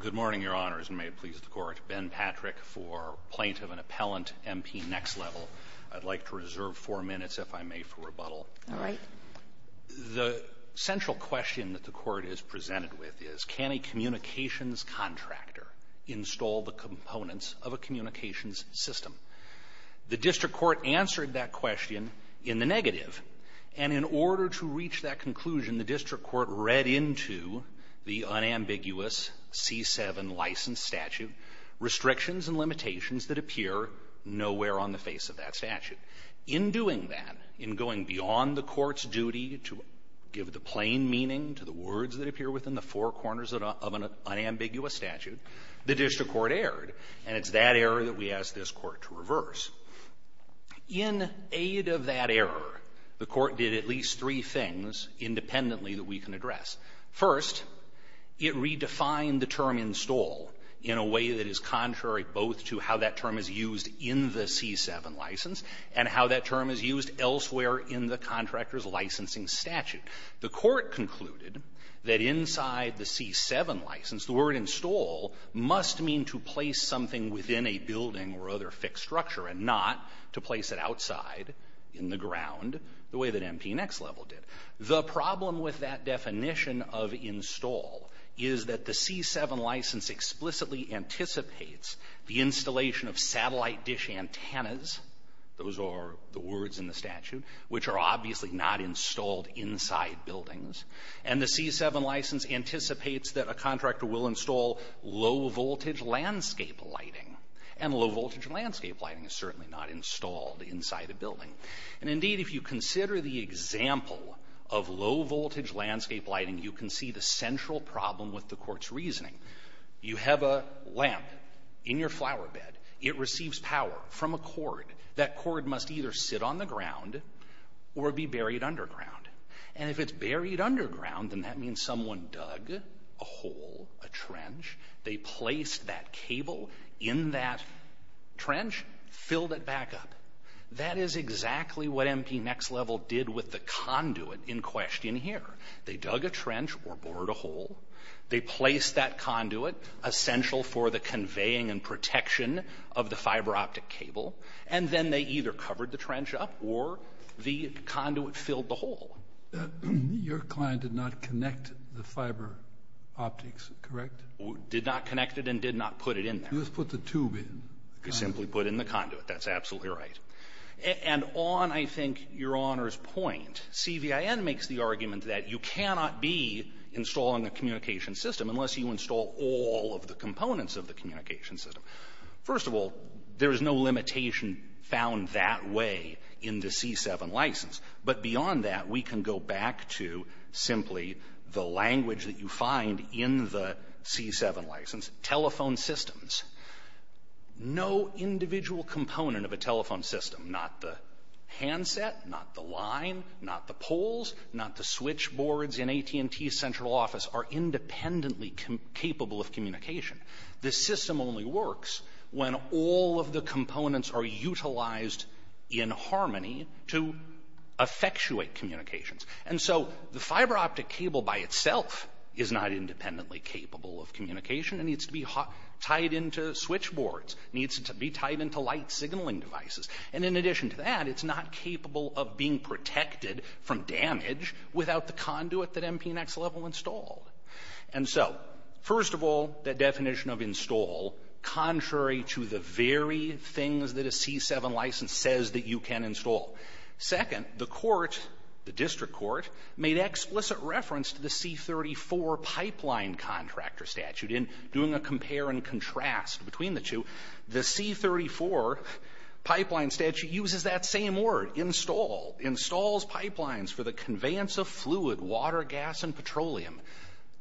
Good morning, Your Honors, and may it please the Court. Ben Patrick for Plaintiff and Appellant, MP Nexlevel. I'd like to reserve four minutes, if I may, for rebuttal. All right. The central question that the Court is presented with is, can a communications contractor install the components of a communications system? The district court answered that question in the negative. And in order to reach that conclusion, the district court read into the unambiguous C-7 license statute restrictions and limitations that appear nowhere on the face of that statute. In doing that, in going beyond the court's duty to give the plain meaning to the words that appear within the four corners of an unambiguous statute, the district court erred. And it's that error that we ask this Court to reverse. In aid of that error, the Court did at least three things independently that we can address. First, it redefined the term install in a way that is contrary both to how that term is used in the C-7 license and how that term is used elsewhere in the contractor's licensing statute. The Court concluded that inside the C-7 license, the word install must mean something to place something within a building or other fixed structure and not to place it outside in the ground, the way that MP-NEX level did. The problem with that definition of install is that the C-7 license explicitly anticipates the installation of satellite dish antennas, those are the words in the statute, which are obviously not installed inside buildings. And the C-7 license anticipates that a contractor will install low-voltage landscape lighting. And low-voltage landscape lighting is certainly not installed inside a building. And indeed, if you consider the example of low-voltage landscape lighting, you can see the central problem with the Court's reasoning. You have a lamp in your flower bed. It receives power from a cord. That cord must either sit on the ground or be buried underground. And if it's buried underground, then that means someone dug a hole, a trench. They placed that cable in that trench, filled it back up. That is exactly what MP-NEX level did with the conduit in question here. They dug a trench or bored a hole. They placed that conduit, essential for the conveying and protection of the fiber optic cable. And then they either covered the trench up or the conduit filled the hole. Your client did not connect the fiber optics, correct? Did not connect it and did not put it in there. You just put the tube in. You simply put in the conduit. That's absolutely right. And on, I think, Your Honor's point, CVIN makes the argument that you cannot be installing a communications system unless you install all of the components of the communications system. First of all, there is no limitation found that way in the C-7 license. But beyond that, we can go back to simply the language that you find in the C-7 license, telephone systems. No individual component of a telephone system, not the handset, not the line, not the poles, not the switchboards in AT&T's central office, are independently capable of communication. The system only works when all of the components are utilized in harmony to effectuate communications. And so the fiber optic cable by itself is not independently capable of communication. It needs to be tied into switchboards. Needs to be tied into light signaling devices. And in addition to that, it's not capable of being protected from damage without the conduit that MPNEC's level installed. And so, first of all, the definition of install, contrary to the very things that the C-7 license says that you can install. Second, the court, the district court, made explicit reference to the C-34 pipeline contractor statute in doing a compare and contrast between the two. The C-34 pipeline statute uses that same word, install, installs pipelines for the conveyance of fluid, water, gas, and petroleum.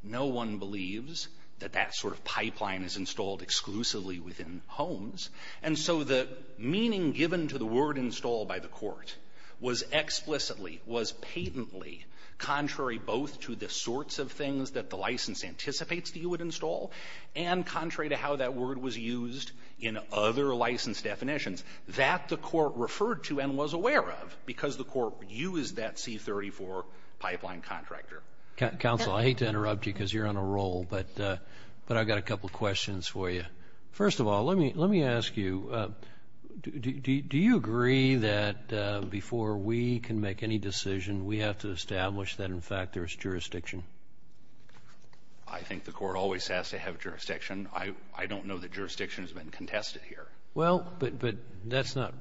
No one believes that that sort of pipeline is installed exclusively within homes. And so the meaning given to the word install by the court was explicitly, was patently contrary both to the sorts of things that the license anticipates that you would install and contrary to how that word was used in other license definitions that the court referred to and was aware of because the court used that C-34 pipeline contractor. Counsel, I hate to interrupt you because you're on a roll, but I've got a couple questions for you. First of all, let me ask you, do you agree that before we can make any decision, we have to establish that, in fact, there is jurisdiction? I think the court always has to have jurisdiction. I don't know that jurisdiction has been contested here. Well, but that's not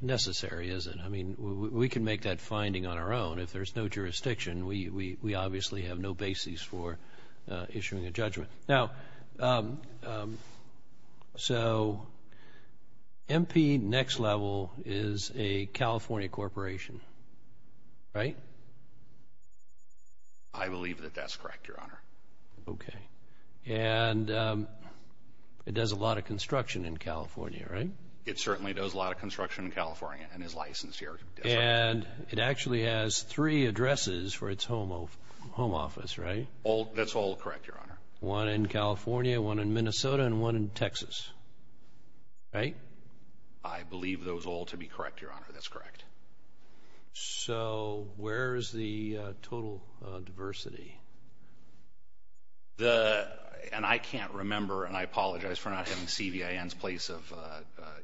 necessary, is it? I mean, we can make that finding on our own. If there's no jurisdiction, we obviously have no basis for issuing a judgment. Now, so MP Next Level is a California corporation, right? I believe that that's correct, Your Honor. Okay. And it does a lot of construction in California, right? It certainly does a lot of construction in California and is licensed here. And it actually has three addresses for its home office, right? That's all correct, Your Honor. One in California, one in Minnesota, and one in Texas, right? I believe those all to be correct, Your Honor, that's correct. So where is the total diversity? And I can't remember, and I apologize for not having CVIN's place of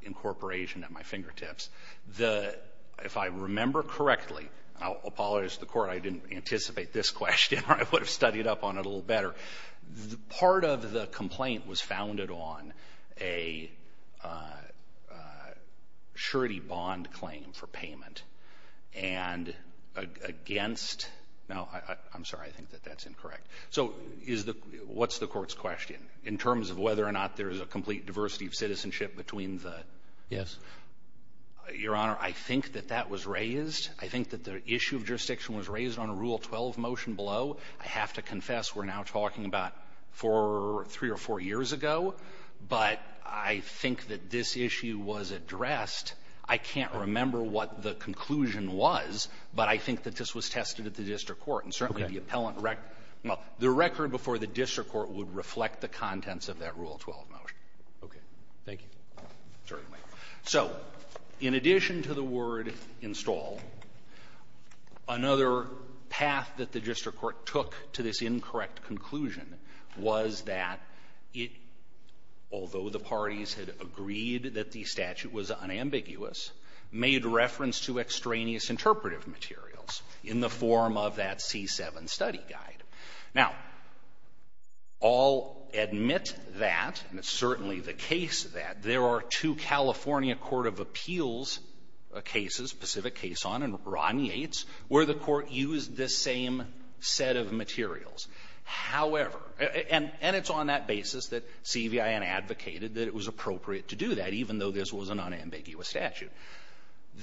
incorporation at my fingertips. If I remember correctly, and I'll apologize to the court, I didn't anticipate this question and I would have studied up on it a little better. Part of the complaint was founded on a surety bond claim for payment and against, no, I'm sorry, I think that that's incorrect. So what's the court's question? In terms of whether or not there is a complete diversity of citizenship between the? Yes. Your Honor, I think that that was raised. I think that the issue of jurisdiction was raised on a Rule 12 motion below. I have to confess we're now talking about four, three or four years ago, but I think that this issue was addressed. I can't remember what the conclusion was, but I think that this was tested at the district court. And certainly the appellant rec — well, the record before the district court would reflect the contents of that Rule 12 motion. Okay. Thank you. Certainly. So in addition to the word install, another path that the district court took to this incorrect conclusion was that it, although the parties had agreed that the statute was unambiguous, made reference to extraneous interpretive materials in the form of that C-7 study guide. Now, I'll admit that, and it's certainly the case that, there are two California court of appeals cases, Pacific Cason and Romney 8s, where the court used the same set of materials. However — and it's on that basis that CVIN advocated that it was appropriate to do that, even though this was an unambiguous statute.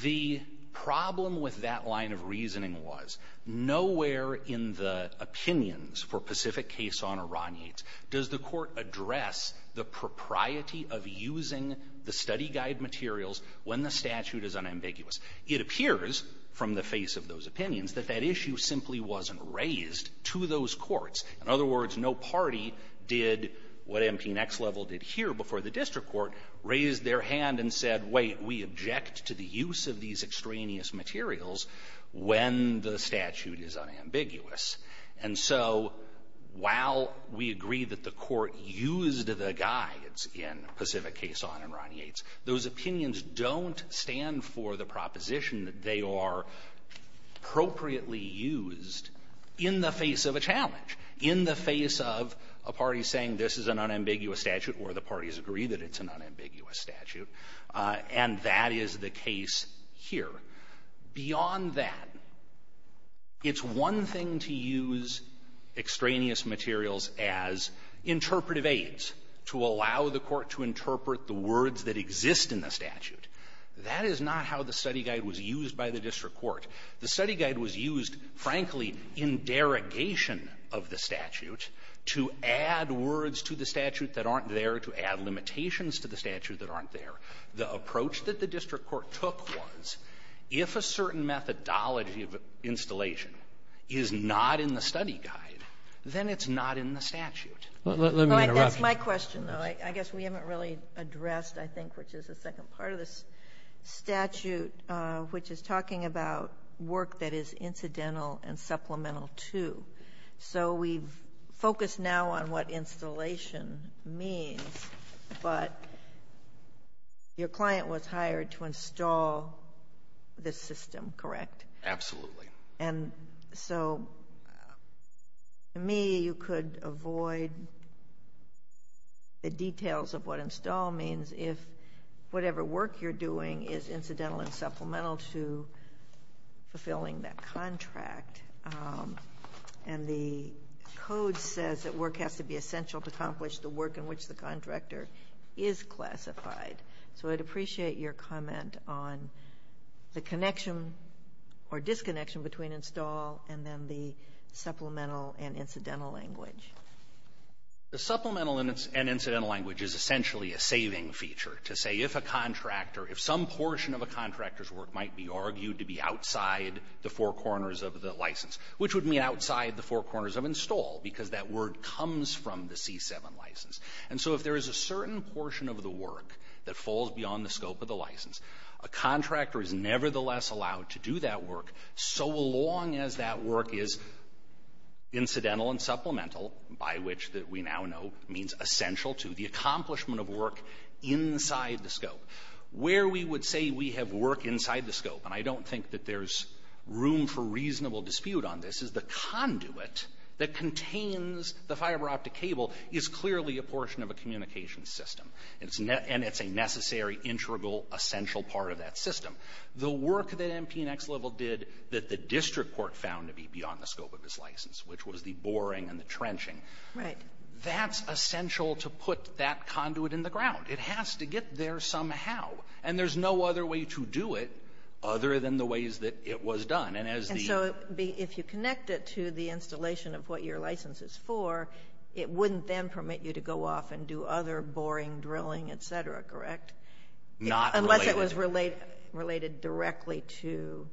The problem with that line of reasoning was, nowhere in the opinions for Pacific Cason or Romney 8s does the court address the propriety of using the study guide materials when the statute is unambiguous. It appears, from the face of those opinions, that that issue simply wasn't raised to those courts. In other words, no party did what MP Nexlevel did here before the district court raised their hand and said, wait, we object to the use of these extraneous materials when the statute is unambiguous. And so while we agree that the court used the guides in Pacific Cason and Romney 8s, those opinions don't stand for the proposition that they are appropriately used in the face of a challenge, in the face of a party saying this is an unambiguous statute, or the parties agree that it's an unambiguous statute. And that is the case here. Beyond that, it's one thing to use extraneous materials as interpretive aides to allow the court to interpret the words that exist in the statute. That is not how the study guide was used by the district court. The study guide was used, frankly, in derogation of the statute to add words to the statute that aren't there, to add limitations to the statute that aren't there. The approach that the district court took was, if a certain methodology of installation is not in the study guide, then it's not in the statute. Sotomayor, that's my question, though. I guess we haven't really addressed, I think, which is the second part of this statute, which is talking about work that is incidental and supplemental, too. So we've focused now on what installation means, but your client was hired to install this system, correct? Absolutely. And so, to me, you could avoid the details of what install means if whatever work you're doing is incidental and supplemental to fulfilling that contract. And the code says that work has to be essential to accomplish the work in which the contractor is classified. So I'd appreciate your comment on the connection or disconnection between install and then the supplemental and incidental language. The supplemental and incidental language is essentially a saving feature to say if a contractor, if some portion of a contractor's work might be argued to be outside the four corners of the license, which would mean outside the four corners of install because that word comes from the C-7 license. And so if there is a certain portion of the work that falls beyond the scope of the license, a contractor is nevertheless allowed to do that work so long as that work is incidental and supplemental, by which that we now know means essential to the accomplishment of work inside the scope. Where we would say we have work inside the scope, and I don't think that there's room for reasonable dispute on this, is the conduit that contains the fiber optic cable is clearly a portion of a communications system. And it's a necessary, integral, essential part of that system. The work that MP and Ex Level did that the district court found to be beyond the scope of this license, which was the boring and the trenching, that's essential to put that conduit in the ground. It has to get there somehow, and there's no other way to do it other than the ways that it was done. And as the... And so if you connect it to the installation of what your license is for, it wouldn't then permit you to go off and do other boring drilling, et cetera, correct? Not related. Unless it was related directly to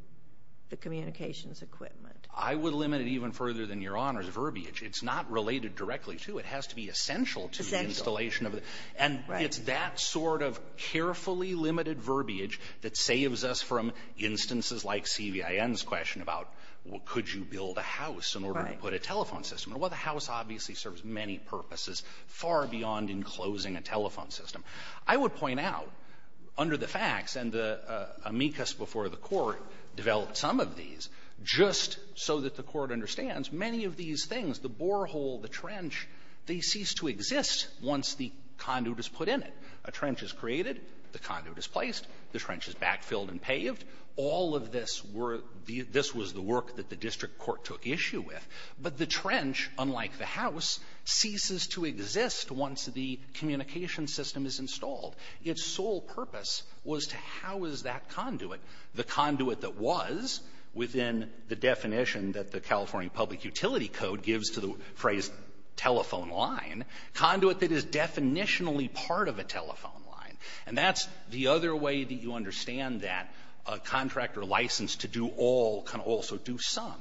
the communications equipment. I would limit it even further than Your Honor's verbiage. It's not related directly to. It has to be essential to the installation of it. And it's that sort of carefully limited verbiage that saves us from instances like CVIN's question about, well, could you build a house in order to put a telephone system? Well, the house obviously serves many purposes, far beyond enclosing a telephone system. I would point out, under the facts, and the amicus before the Court developed some of these, just so that the Court understands, many of these things, the borehole, the trench, they cease to exist once the conduit is put in it. A trench is created. The conduit is placed. The trench is backfilled and paved. All of this were the — this was the work that the district court took issue with. But the trench, unlike the house, ceases to exist once the communications system is installed. Its sole purpose was to house that conduit, the conduit that was within the definition that the California Public Utility Code gives to the phrase telephone line, conduit that is definitionally part of a telephone line. And that's the other way that you understand that a contractor licensed to do all can also do some.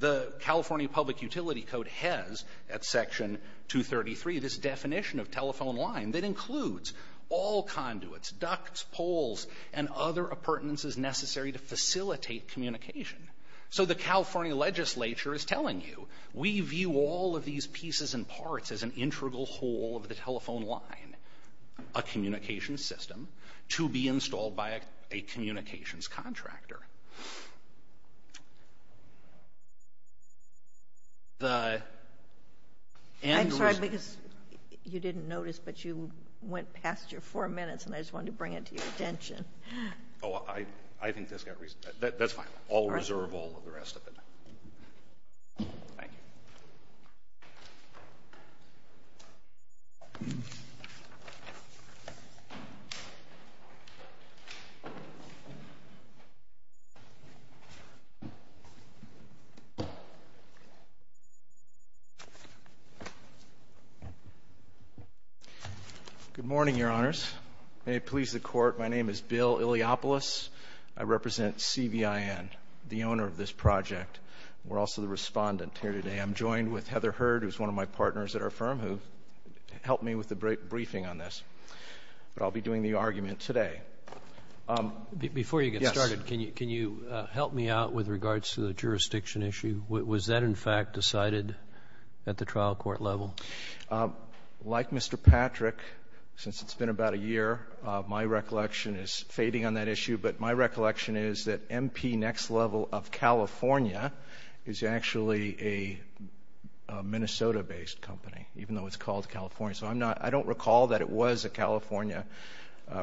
The California Public Utility Code has, at Section 233, this definition of telephone line that includes all conduits, ducts, poles, and other appurtenances necessary to facilitate communication. So the California legislature is telling you, we view all of these pieces and parts as an integral whole of the telephone line, a communications system, to be installed by a communications contractor. The end result — I'm sorry, because you didn't notice, but you went past your four minutes, and I just wanted to bring it to your attention. Oh, I think that's got reason — that's fine. I'll reserve all of the rest of it. Thank you. Good morning, Your Honors. May it please the Court, my name is Bill Iliopoulos. I represent CVIN, the owner of this project. We're also the Respondent here today. I'm joined with Heather Hurd, who's one of my partners at our firm, who helped me with the briefing on this. But I'll be doing the argument today. Yes. Before you get started, can you help me out with regards to the jurisdiction issue? Was that, in fact, decided at the trial court level? Like Mr. Patrick, since it's been about a year, my recollection is fading on that issue, but my recollection is that MP Next Level of California is actually a Minnesota-based company, even though it's called California. So I'm not — I don't recall that it was a California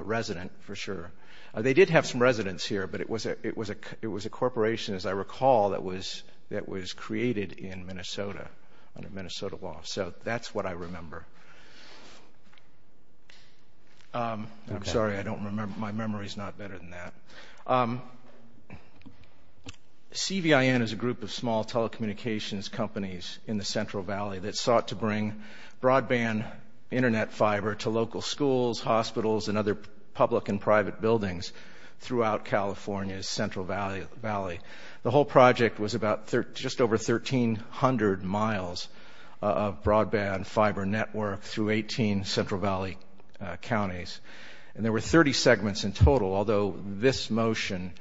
resident, for sure. They did have some residents here, but it was a corporation, as I recall, that was created in Minnesota, under Minnesota law. So that's what I remember. I'm sorry. I don't remember — my memory's not better than that. CVIN is a group of small telecommunications companies in the Central Valley that sought to bring broadband Internet fiber to local schools, hospitals, and other public and private buildings throughout California's Central Valley. The whole project was about — just over 1,300 miles of broadband fiber networking, through 18 Central Valley counties. And there were 30 segments in total, although this motion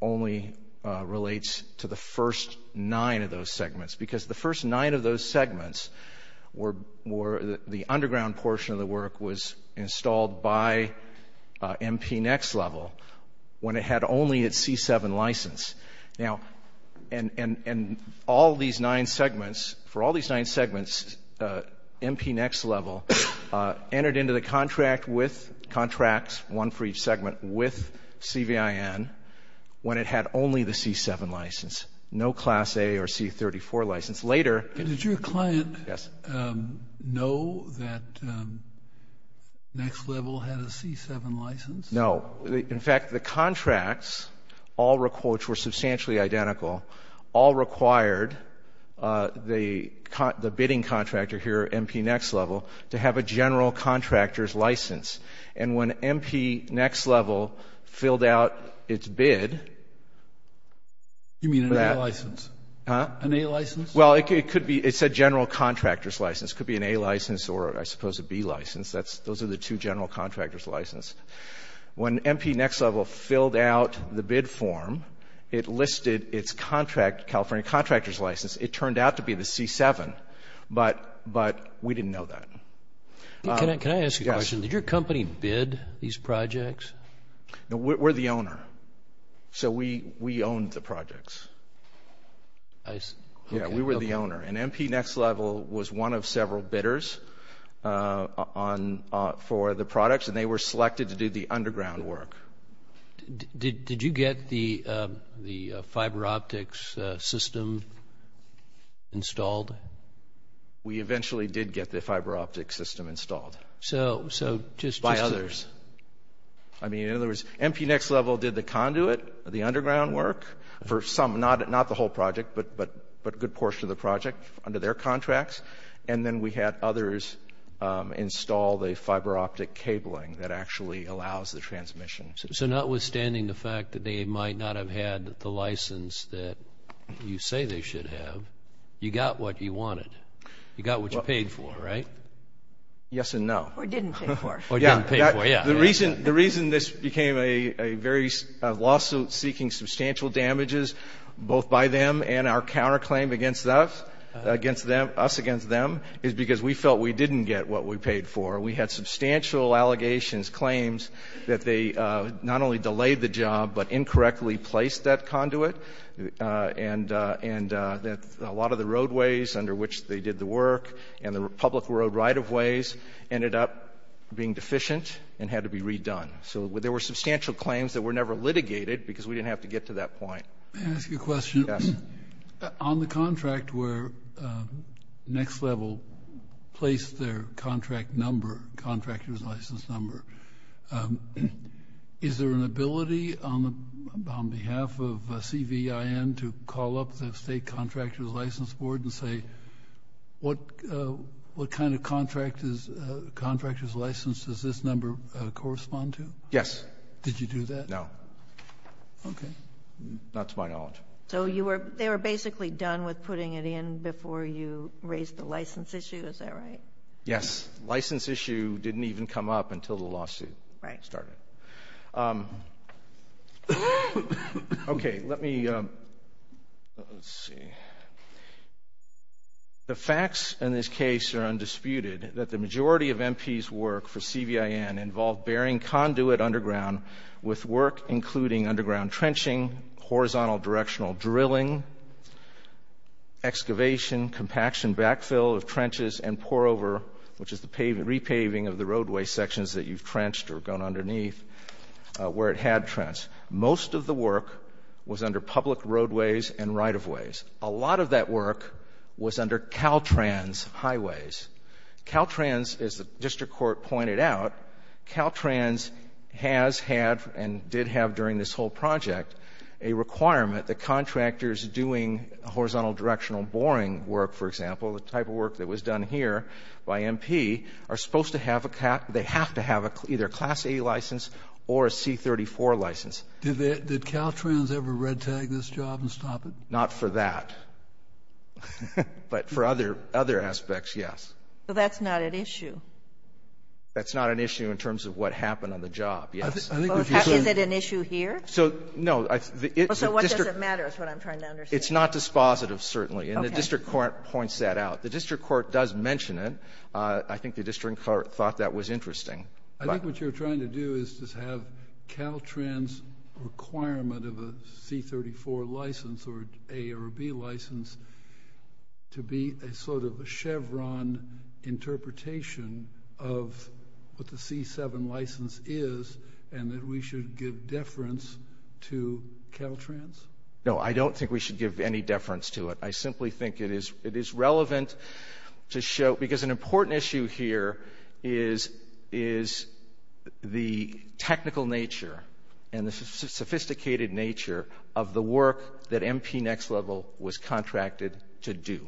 only relates to the first nine of those segments, because the first nine of those segments were — the underground portion of the work was installed by MP Next Level when it had only its C7 license. Now — and all these nine segments — for all these nine segments, MP Next Level entered into the contract with — contracts, one for each segment, with CVIN when it had only the C7 license, no Class A or C34 license. Later — Did your client know that Next Level had a C7 license? No. In fact, the contracts, which were substantially identical, all required the bidding contractor here, MP Next Level, to have a general contractor's license. And when MP Next Level filled out its bid — You mean an A license? Huh? An A license? Well, it could be — it said general contractor's license. It could be an A license or, I suppose, a B license. Those are the two general contractor's licenses. When MP Next Level filled out the bid form, it listed its contract, California contractor's license. It turned out to be the C7, but we didn't know that. Can I ask you a question? Yes. Did your company bid these projects? No, we're the owner. I see. Yeah, we were the owner. And MP Next Level was one of several bidders for the products, and they were selected to do the underground work. Did you get the fiber optics system installed? We eventually did get the fiber optics system installed. So just — By others. I mean, in other words, MP Next Level did the conduit, the underground work, for some — not the whole project, but a good portion of the project under their contracts. And then we had others install the fiber optic cabling that actually allows the transmission. So notwithstanding the fact that they might not have had the license that you say they should have, you got what you wanted. You got what you paid for, right? Yes and no. Or didn't pay for. Or didn't pay for, yeah. The reason this became a very — a lawsuit seeking substantial damages, both by them and our counterclaim against us, against them — us against them, is because we felt we didn't get what we paid for. We had substantial allegations, claims that they not only delayed the job, but incorrectly placed that conduit, and that a lot of the roadways under which they did the work and the public road right-of-ways ended up being deficient and had to be redone. So there were substantial claims that were never litigated because we didn't have to get to that point. May I ask you a question? Yes. On the contract where Next Level placed their contract number, contractor's license number, is there an ability on behalf of CVIN to call up the state contractor's license board and say, what kind of contractor's license does this number correspond to? Yes. Did you do that? No. Okay. Not to my knowledge. So you were — they were basically done with putting it in before you raised the license issue, is that right? Yes. License issue didn't even come up until the lawsuit started. Right. Okay. Let me — let's see. The facts in this case are undisputed, that the majority of MP's work for CVIN involved bearing conduit underground with work including underground trenching, horizontal directional drilling, excavation, compaction backfill of trenches, and pour-over, which is the repaving of the roadway sections that you've trenched or gone underneath where it had trenched. Most of the work was under public roadways and right-of-ways. A lot of that work was under Caltrans highways. Caltrans, as the district court pointed out, Caltrans has had and did have during this whole project a requirement that contractors doing horizontal directional boring work, for example, the type of work that was done here by MP, are supposed to have a — they have to have either a Class A license or a C-34 license. Did Caltrans ever red-tag this job and stop it? Not for that, but for other aspects, yes. But that's not an issue. That's not an issue in terms of what happened on the job, yes. Is it an issue here? So, no. So what does it matter is what I'm trying to understand. It's not dispositive, certainly. And the district court points that out. The district court does mention it. I think the district court thought that was interesting. I think what you're trying to do is just have Caltrans' requirement of a C-34 license or an A or a B license to be a sort of a Chevron interpretation of what the C-7 license is and that we should give deference to Caltrans. No, I don't think we should give any deference to it. I simply think it is relevant to show, because an important issue here is the technical nature and the sophisticated nature of the work that MP Next Level was contracted to do.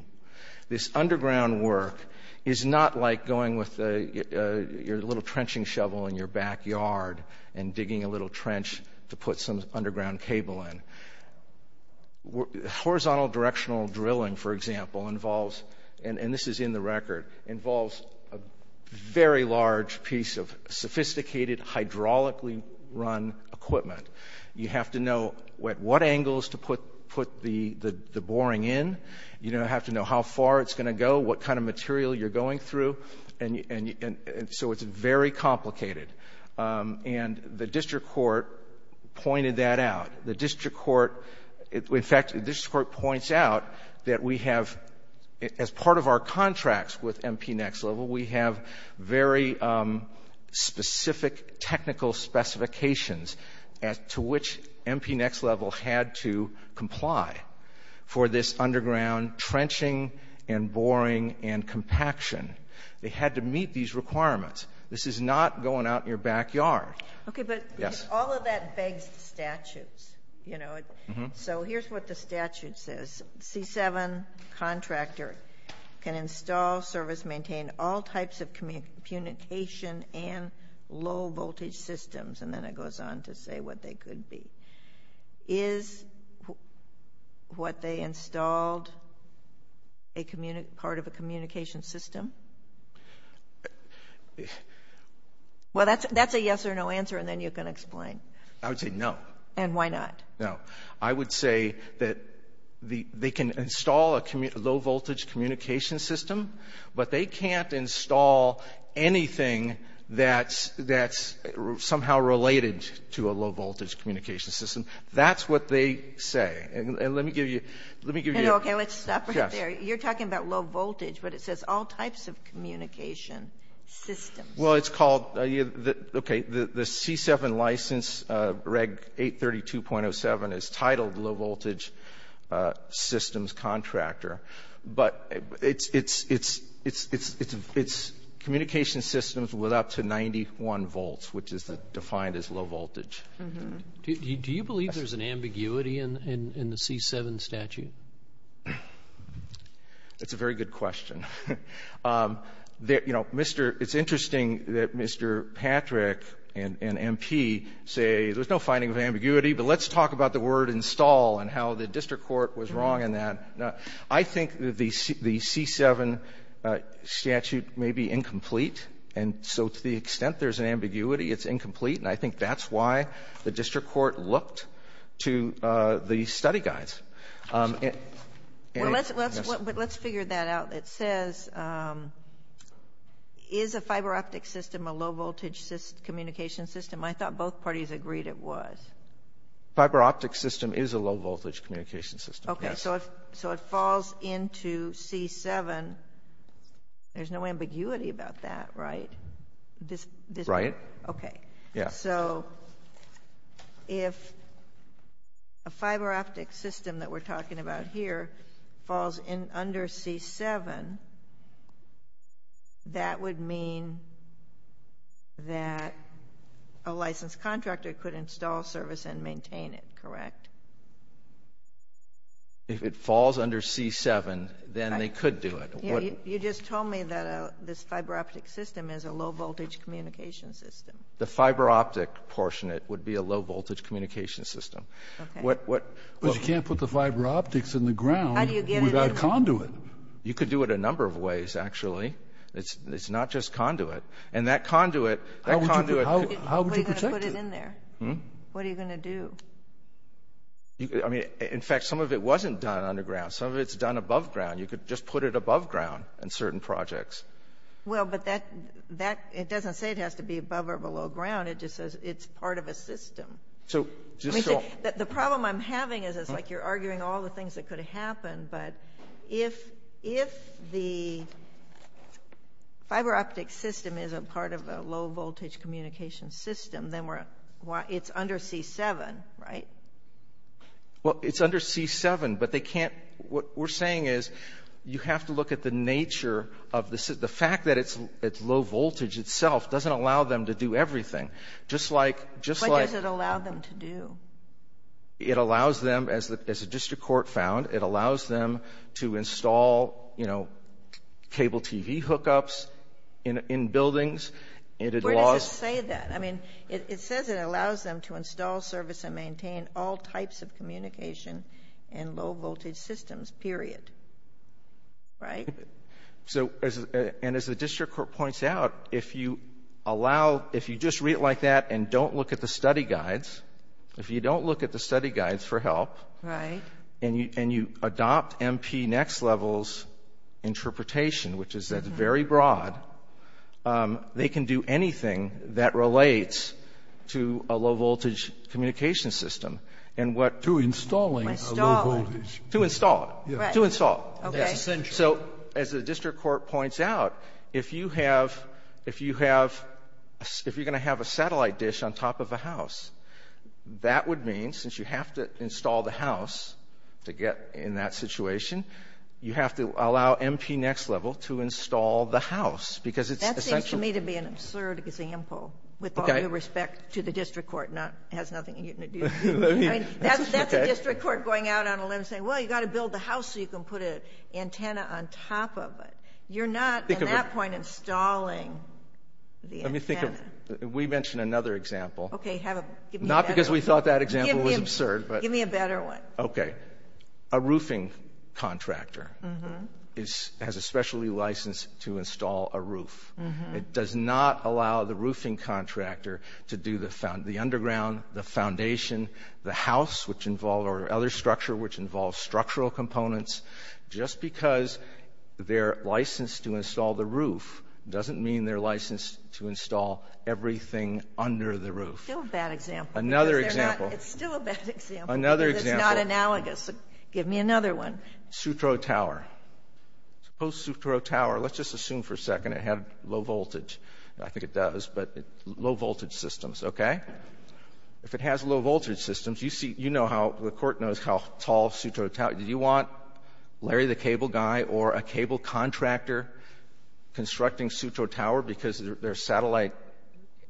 This underground work is not like going with your little trenching shovel in your backyard and digging a little trench to put some underground cable in. Horizontal directional drilling, for example, involves, and this is in the record, involves a very large piece of sophisticated, hydraulically run equipment. You have to know at what angles to put the boring in. You have to know how far it's going to go, what kind of material you're going through. And so it's very complicated. And the district court pointed that out. The district court — in fact, the district court points out that we have, as part of our contracts with MP Next Level, we have very specific technical specifications to which MP Next Level had to comply for this underground trenching and boring and compaction. They had to meet these requirements. This is not going out in your backyard. Okay, but all of that begs the statutes. You know, so here's what the statute says. C-7 contractor can install, service, maintain all types of communication and low-voltage systems. And then it goes on to say what they could be. Is what they installed part of a communication system? Well, that's a yes or no answer, and then you can explain. I would say no. And why not? No. I would say that they can install a low-voltage communication system, but they can't install anything that's somehow related to a low-voltage communication system. That's what they say. And let me give you — Okay, let's stop right there. You're talking about low voltage, but it says all types of communication. All types of communication systems. Well, it's called — okay, the C-7 license, Reg 832.07, is titled low-voltage systems contractor. But it's communication systems with up to 91 volts, which is defined as low voltage. Do you believe there's an ambiguity in the C-7 statute? It's a very good question. You know, it's interesting that Mr. Patrick and MP say there's no finding of ambiguity, but let's talk about the word install and how the district court was wrong in that. I think the C-7 statute may be incomplete. And so to the extent there's an ambiguity, it's incomplete. And I think that's why the district court looked to the study guides. But let's figure that out. It says, is a fiber-optic system a low-voltage communication system? I thought both parties agreed it was. Fiber-optic system is a low-voltage communication system, yes. Okay, so it falls into C-7. There's no ambiguity about that, right? Right. Okay. Yeah. So if a fiber-optic system that we're talking about here falls under C-7, that would mean that a licensed contractor could install service and maintain it, correct? If it falls under C-7, then they could do it. You just told me that this fiber-optic system is a low-voltage communication system. The fiber-optic portion, it would be a low-voltage communication system. Okay. But you can't put the fiber-optics in the ground without conduit. You could do it a number of ways, actually. It's not just conduit. And that conduit, that conduit could be put in there. How would you protect it? What are you going to do? I mean, in fact, some of it wasn't done underground. Some of it's done above ground. You could just put it above ground in certain projects. Well, but that doesn't say it has to be above or below ground. It just says it's part of a system. So just so — The problem I'm having is it's like you're arguing all the things that could happen. But if the fiber-optic system is a part of a low-voltage communication system, then it's under C-7, right? Well, it's under C-7, but they can't — what we're saying is you have to look at the nature of the — the fact that it's low-voltage itself doesn't allow them to do everything. Just like — What does it allow them to do? It allows them, as the district court found, it allows them to install, you know, cable TV hookups in buildings. Where does it say that? I mean, it says it allows them to install, service, and maintain all types of communication in low-voltage systems, period. Right? So — and as the district court points out, if you allow — if you just read it like that and don't look at the study guides, if you don't look at the study guides for help — Right. — and you adopt MPNext-level's interpretation, which is that it's very broad, they can do anything that relates to a low-voltage communication system. And what — To installing a low-voltage. To install it. Right. To install. That's essential. So, as the district court points out, if you have — if you have — if you're going to have a satellite dish on top of a house, that would mean, since you have to install the house to get in that situation, you have to allow MPNext-level to install the house, because it's essential. That seems to me to be an absurd example, with all due respect to the district court, not — has nothing to do with it. I mean, that's a district court going out on a limb saying, well, you've got to build the house so you can put an antenna on top of it. You're not, at that point, installing the antenna. Let me think of — we mentioned another example. OK, have a — give me a better one. Not because we thought that example was absurd, but — Give me a better one. OK. A roofing contractor has a specialty license to install a roof. It does not allow the roofing contractor to do the underground, the foundation, the house, which involve — or other structure which involves structural components. Just because they're licensed to install the roof doesn't mean they're licensed to install everything under the roof. Still a bad example. Another example. It's still a bad example. Another example. It's not analogous. Give me another one. Sutro Tower. Suppose Sutro Tower — let's just assume for a second it had low voltage. I think it does, but low-voltage systems, OK? If it has low-voltage systems, you see — you know how — the Court knows how tall Sutro Tower — did you want Larry the cable guy or a cable contractor constructing Sutro Tower because there's satellite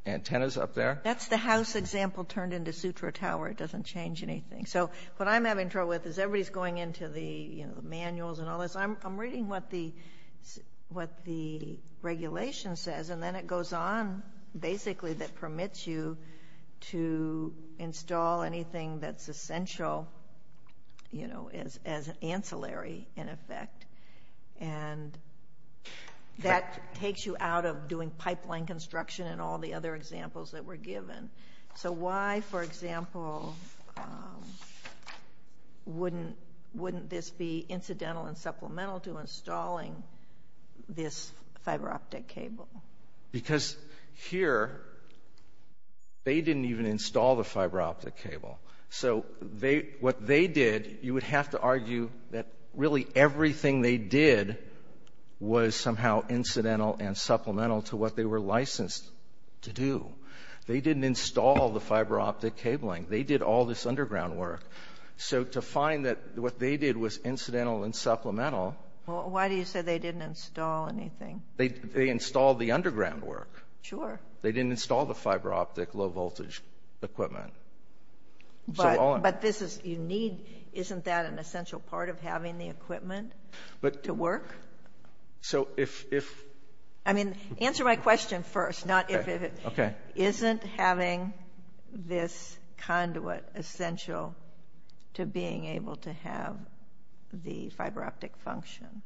antennas up there? That's the house example turned into Sutro Tower. It doesn't change anything. So what I'm having trouble with is everybody's going into the manuals and all this. I'm reading what the — what the regulation says, and then it goes on, basically, that permits you to install anything that's essential, you know, as ancillary, in effect. And that takes you out of doing pipeline construction and all the other examples that were given. So why, for example, wouldn't this be incidental and supplemental to installing this fiber optic cable? Because here, they didn't even install the fiber optic cable. So what they did — you would have to argue that really everything they did was somehow incidental and supplemental to what they were licensed to do. They didn't install the fiber optic cabling. They did all this underground work. So to find that what they did was incidental and supplemental — Well, why do you say they didn't install anything? They installed the underground work. Sure. They didn't install the fiber optic low-voltage equipment. But this is — you need — isn't that an essential part of having the equipment to work? So if — I mean, answer my question first, not if it — Okay. Isn't having this conduit essential to being able to have the fiber optic function?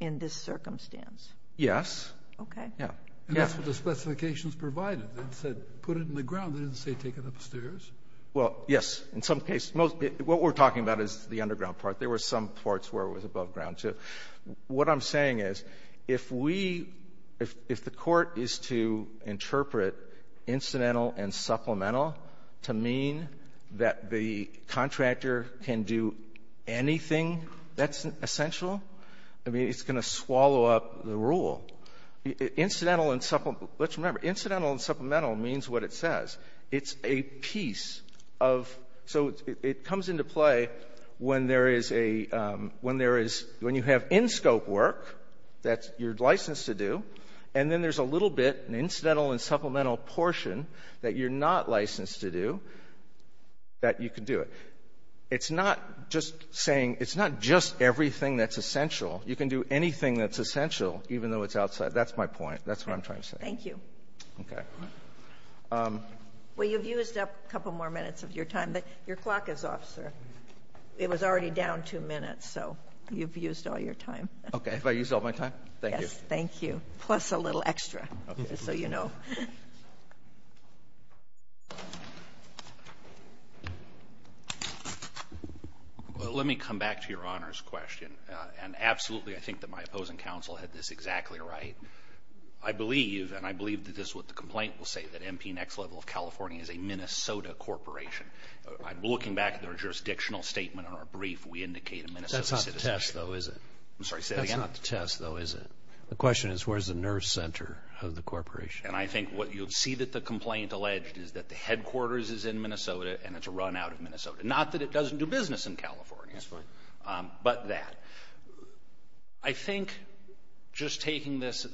In this circumstance? Yes. Okay. Yeah. And that's what the specifications provided. They said put it in the ground. They didn't say take it upstairs. Well, yes. In some cases, most — what we're talking about is the underground part. There were some parts where it was above ground, too. What I'm saying is, if we — if the Court is to interpret incidental and supplemental to mean that the contractor can do anything, that's essential. I mean, it's going to swallow up the rule. Incidental and — let's remember, incidental and supplemental means what it says. It's a piece of — so it comes into play when there is a — when there is — when you have in-scope work that you're licensed to do, and then there's a little bit, an incidental and supplemental portion that you're not licensed to do, that you can do it. It's not just saying — it's not just everything that's essential. You can do anything that's essential, even though it's outside. That's my point. That's what I'm trying to say. Thank you. Okay. Well, you've used up a couple more minutes of your time. Your clock is off, sir. It was already down two minutes, so you've used all your time. Okay. Have I used all my time? Thank you. Thank you. Plus a little extra, just so you know. Well, let me come back to your Honor's question. And absolutely, I think that my opposing counsel had this exactly right. I believe, and I believe that this is what the complaint will say, that MP Next Level of California is a Minnesota corporation. I'm looking back at their jurisdictional statement on our brief. We indicate a Minnesota — That's not the test, though, is it? I'm sorry, say that again? That's not the test, though, is it? The question is, where's the nerve center of the corporation? And I think what you'll see that the complaint alleged is that the headquarters is in Minnesota, and it's a run-out of Minnesota. Not that it doesn't do business in California. That's fine. But that. I think just taking this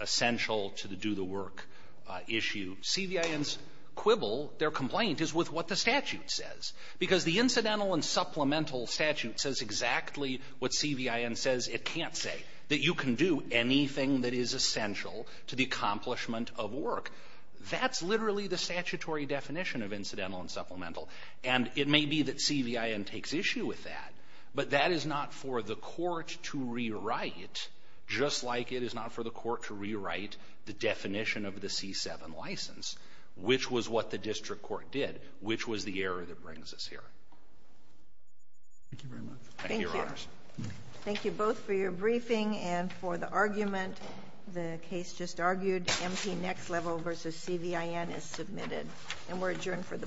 essential-to-do-the-work issue, CVIN's quibble, their complaint, is with what the statute says. Because the incidental and supplemental statute says exactly what CVIN says it can't say, that you can do anything that is essential to the accomplishment of work. That's literally the statutory definition of incidental and supplemental. And it may be that CVIN takes issue with that. But that is not for the court to rewrite, just like it is not for the court to rewrite the definition of the C-7 license, which was what the district court did, which was the error that brings us here. Thank you very much. Thank you, Your Honors. Thank you both for your briefing and for the argument. The case just argued, MT next level versus CVIN is submitted. And we're adjourned for the morning. Thank you.